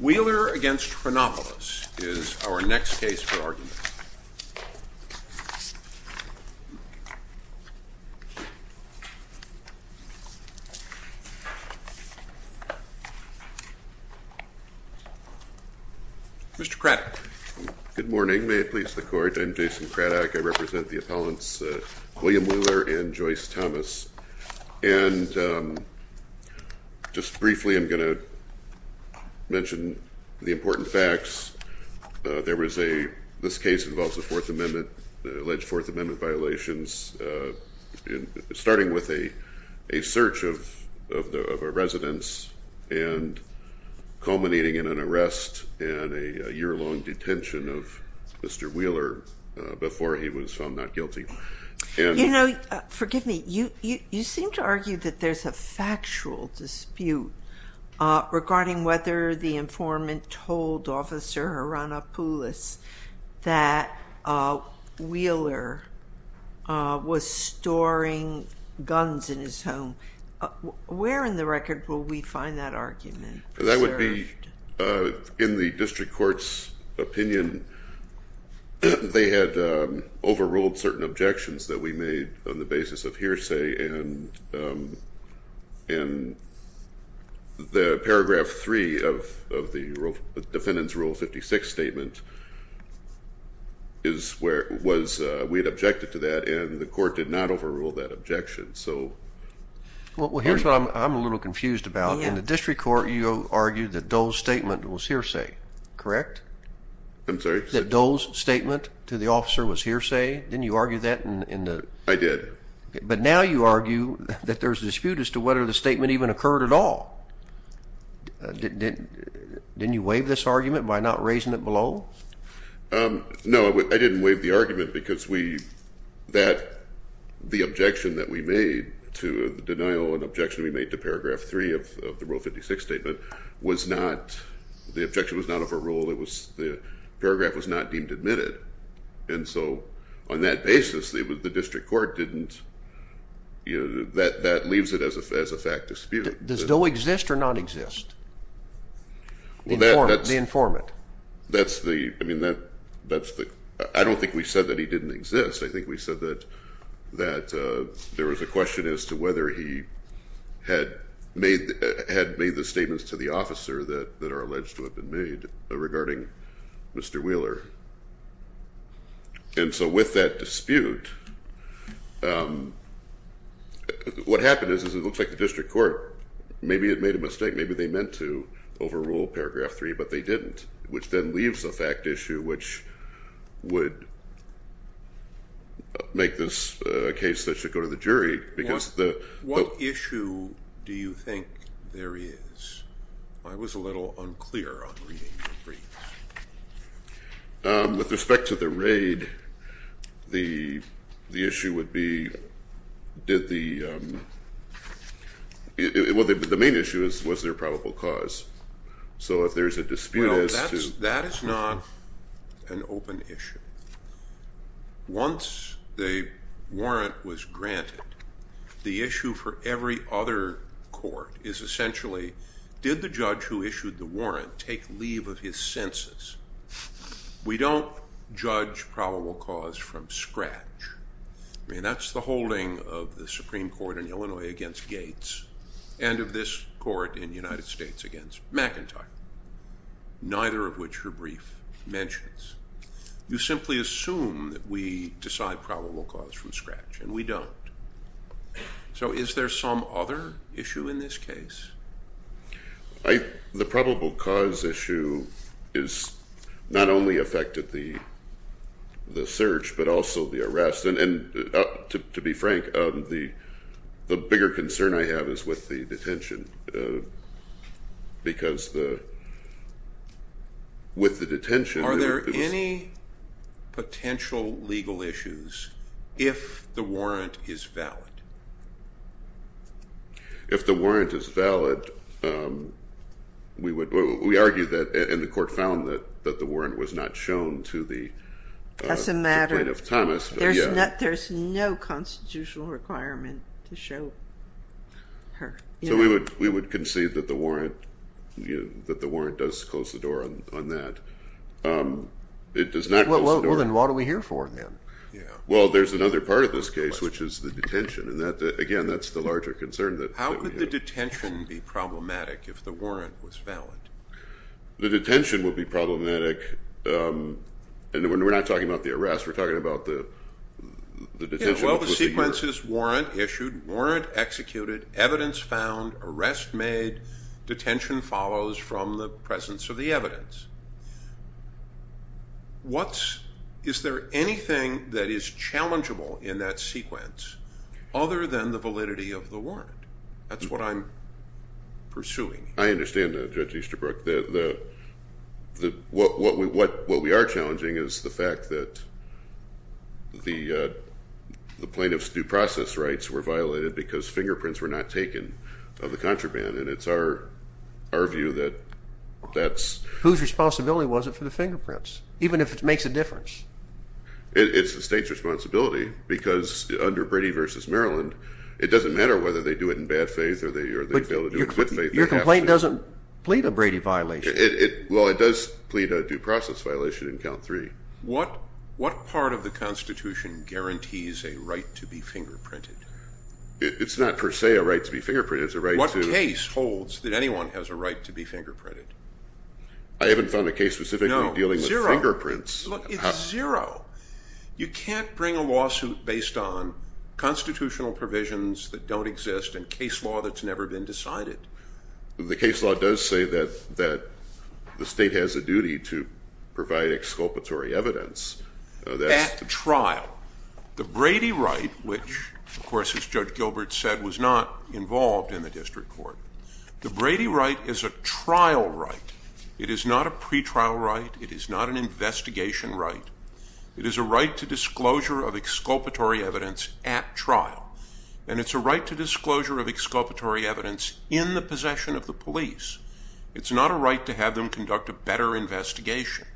Wheeler v. Hronopoulos is our next case for argument. Mr. Craddock. Good morning. May it please the Court. I'm Jason Craddock. I represent the appellants William Wheeler and Joyce Thomas. And just briefly, I'm going to mention the important facts. There was a – this case involves a Fourth Amendment – alleged Fourth Amendment violations, starting with a search of a residence and culminating in an arrest and a year-long detention of Mr. Wheeler before he was found not guilty. You know, forgive me, you seem to argue that there's a factual dispute regarding whether the informant told Officer Hronopoulos that Wheeler was storing guns in his home. Where in the record will we find that argument? That would be in the district court's opinion. They had overruled certain objections that we made on the basis of hearsay, and the paragraph 3 of the defendant's Rule 56 statement is where it was. We had objected to that, and the court did not overrule that objection. Well, here's what I'm a little confused about. In the district court, you argued that Dole's statement was hearsay, correct? I'm sorry? That Dole's statement to the officer was hearsay? Didn't you argue that in the – I did. But now you argue that there's a dispute as to whether the statement even occurred at all. Didn't you waive this argument by not raising it below? No, I didn't waive the argument because we – the objection that we made to the denial and objection we made to paragraph 3 of the Rule 56 statement was not – the objection was not overruled. The paragraph was not deemed admitted. And so on that basis, the district court didn't – that leaves it as a fact dispute. Does Dole exist or not exist? The informant. That's the – I mean, that's the – I don't think we said that he didn't exist. I think we said that there was a question as to whether he had made the statements to the officer that are alleged to have been made regarding Mr. Wheeler. And so with that dispute, what happened is it looks like the district court, maybe it made a mistake. Maybe they meant to overrule paragraph 3, but they didn't, which then leaves a fact issue which would make this a case that should go to the jury because the – What issue do you think there is? I was a little unclear on reading the briefs. With respect to the raid, the issue would be did the – well, the main issue was was there a probable cause? So if there's a dispute as to – Well, that is not an open issue. Once the warrant was granted, the issue for every other court is essentially did the judge who issued the warrant take leave of his census? We don't judge probable cause from scratch. I mean, that's the holding of the Supreme Court in Illinois against Gates and of this court in the United States against McIntyre, neither of which her brief mentions. You simply assume that we decide probable cause from scratch, and we don't. So is there some other issue in this case? The probable cause issue has not only affected the search but also the arrest. To be frank, the bigger concern I have is with the detention because with the detention – Are there any potential legal issues if the warrant is valid? If the warrant is valid, we argue that – and the court found that the warrant was not shown to the complaint of Thomas. There's no constitutional requirement to show her. So we would concede that the warrant does close the door on that. It does not close the door – Well, then what are we here for then? Well, there's another part of this case, which is the detention. Again, that's the larger concern that we have. How could the detention be problematic if the warrant was valid? The detention would be problematic, and we're not talking about the arrest. We're talking about the detention. Yeah, well, the sequence is warrant issued, warrant executed, evidence found, arrest made, detention follows from the presence of the evidence. Is there anything that is challengeable in that sequence other than the validity of the warrant? That's what I'm pursuing. I understand that, Judge Easterbrook. What we are challenging is the fact that the plaintiff's due process rights were violated because fingerprints were not taken of the contraband, and it's our view that that's – Whose responsibility was it for the fingerprints, even if it makes a difference? It's the state's responsibility because under Brady v. Maryland, it doesn't matter whether they do it in bad faith or they fail to do it in good faith. Your complaint doesn't plead a Brady violation. Well, it does plead a due process violation in count three. What part of the Constitution guarantees a right to be fingerprinted? It's not per se a right to be fingerprinted. What case holds that anyone has a right to be fingerprinted? I haven't found a case specifically dealing with fingerprints. Look, it's zero. You can't bring a lawsuit based on constitutional provisions that don't exist and case law that's never been decided. The case law does say that the state has a duty to provide exculpatory evidence. That's the trial. The Brady right, which, of course, as Judge Gilbert said, was not involved in the district court. The Brady right is a trial right. It is not a pretrial right. It is not an investigation right. It is a right to disclosure of exculpatory evidence at trial, and it's a right to disclosure of exculpatory evidence in the possession of the police. It's not a right to have them conduct a better investigation.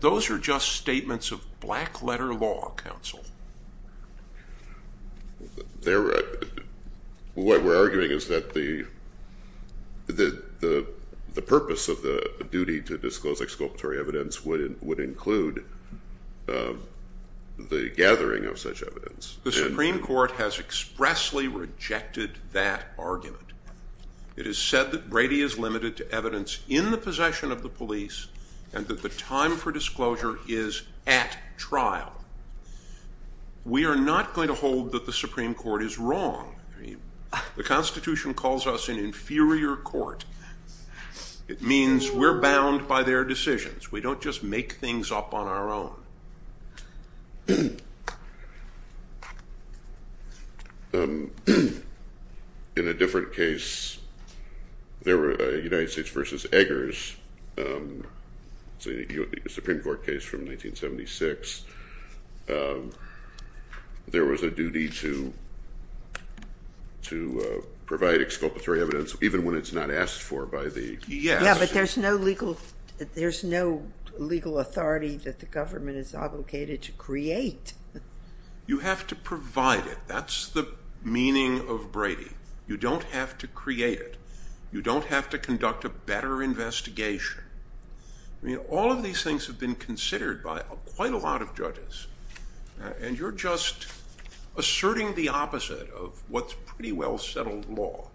Those are just statements of black-letter law, counsel. What we're arguing is that the purpose of the duty to disclose exculpatory evidence would include the gathering of such evidence. The Supreme Court has expressly rejected that argument. It is said that Brady is limited to evidence in the possession of the police and that the time for disclosure is at trial. We are not going to hold that the Supreme Court is wrong. The Constitution calls us an inferior court. It means we're bound by their decisions. We don't just make things up on our own. In a different case, the United States v. Eggers, the Supreme Court case from 1976, there was a duty to provide exculpatory evidence even when it's not asked for by the institution. But there's no legal authority that the government is obligated to create. You have to provide it. That's the meaning of Brady. You don't have to create it. You don't have to conduct a better investigation. All of these things have been considered by quite a lot of judges, and you're just asserting the opposite of what's pretty well-settled law.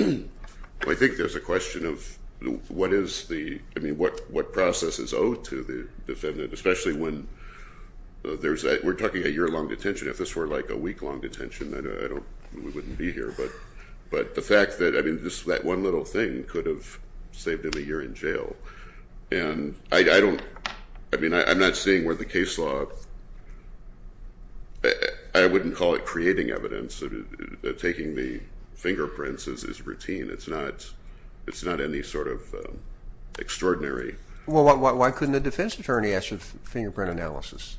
I think there's a question of what process is owed to the defendant, especially when we're talking a year-long detention. If this were like a week-long detention, we wouldn't be here. But the fact that that one little thing could have saved him a year in jail. I'm not seeing where the case law, I wouldn't call it creating evidence, taking the fingerprints is routine. It's not any sort of extraordinary. Well, why couldn't a defense attorney ask for fingerprint analysis?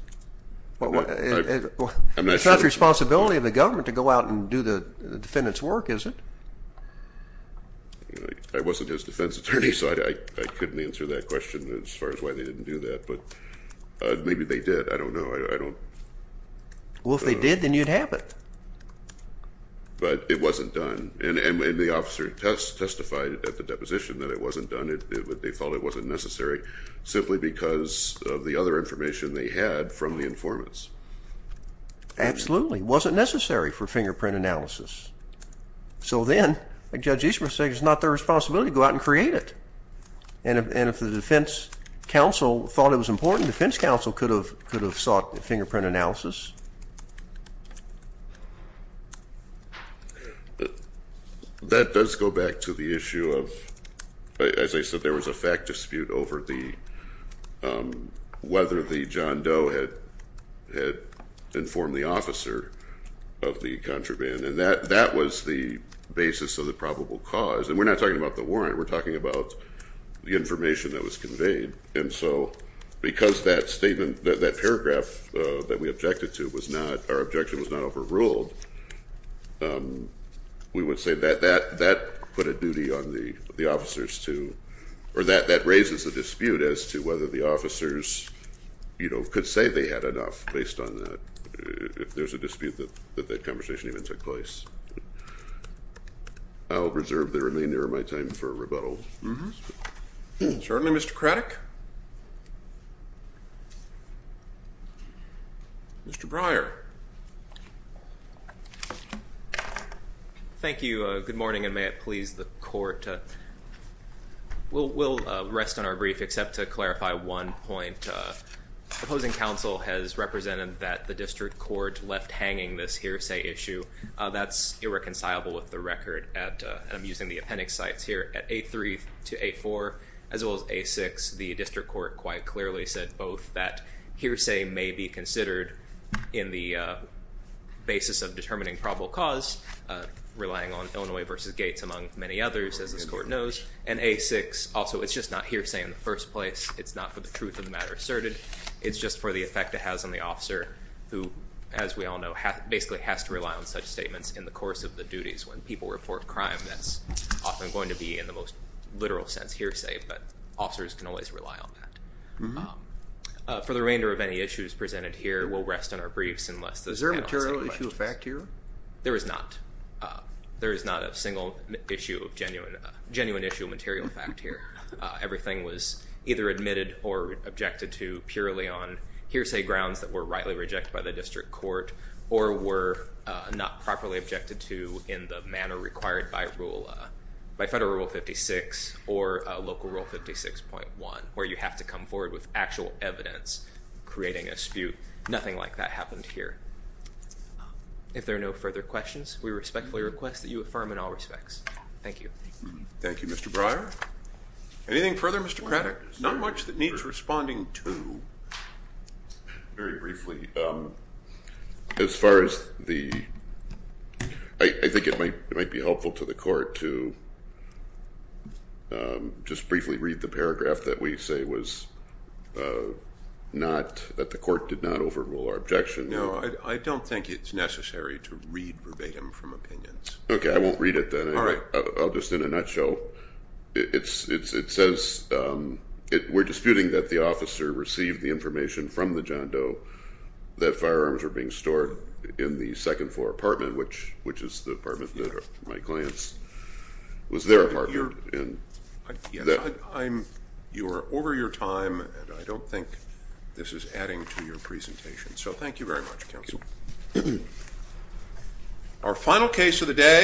It's not the responsibility of the government to go out and do the defendant's work, is it? I wasn't his defense attorney, so I couldn't answer that question as far as why they didn't do that. But maybe they did. I don't know. Well, if they did, then you'd have it. But it wasn't done. And the officer testified at the deposition that it wasn't done. They thought it wasn't necessary, simply because of the other information they had from the informants. Absolutely. It wasn't necessary for fingerprint analysis. So then, like Judge Eastman was saying, it's not their responsibility to go out and create it. And if the defense counsel thought it was important, defense counsel could have sought fingerprint analysis. That does go back to the issue of, as I said, there was a fact dispute over whether the John Doe had informed the officer of the contraband. And that was the basis of the probable cause. And we're not talking about the warrant. We're talking about the information that was conveyed. And so because that paragraph that we objected to was not, our objection was not overruled, we would say that that put a duty on the officers to, or that that raises a dispute as to whether the officers could say they had enough based on that, if there's a dispute that that conversation even took place. I'll reserve the remainder of my time for rebuttal. Certainly, Mr. Craddick. Mr. Breyer. Thank you. Good morning, and may it please the Court. We'll rest on our brief, except to clarify one point. Opposing counsel has represented that the district court left hanging this hearsay issue. That's irreconcilable with the record at, and I'm using the appendix sites here, at 8-3 to 8-4, as well as 8-6. The district court quite clearly said both that hearsay may be considered in the basis of determining probable cause, relying on Illinois v. Gates, among many others, as this court knows. And 8-6, also, it's just not hearsay in the first place. It's not for the truth of the matter asserted. It's just for the effect it has on the officer, who, as we all know, basically has to rely on such statements in the course of the duties. When people report crime, that's often going to be in the most literal sense hearsay, but officers can always rely on that. For the remainder of any issues presented here, we'll rest on our briefs, unless those panels take place. Is there a material issue of fact here? There is not. There is not a single issue of genuine issue of material fact here. Everything was either admitted or objected to purely on hearsay grounds that were rightly rejected by the district court, or were not properly objected to in the manner required by Federal Rule 56 or Local Rule 56.1, where you have to come forward with actual evidence, creating a spute. Nothing like that happened here. If there are no further questions, we respectfully request that you affirm in all respects. Thank you. Thank you, Mr. Breyer. Anything further, Mr. Craddick? Not much that needs responding to. Very briefly. As far as the, I think it might be helpful to the court to just briefly read the paragraph that we say was not, that the court did not overrule our objection. No, I don't think it's necessary to read verbatim from opinions. Okay, I won't read it then. All right. I'll just, in a nutshell, it says we're disputing that the officer received the information from the John Doe that firearms were being stored in the second floor apartment, which is the apartment that my client's, was their apartment. You're over your time, and I don't think this is adding to your presentation. So thank you very much, counsel. Our final case of the day.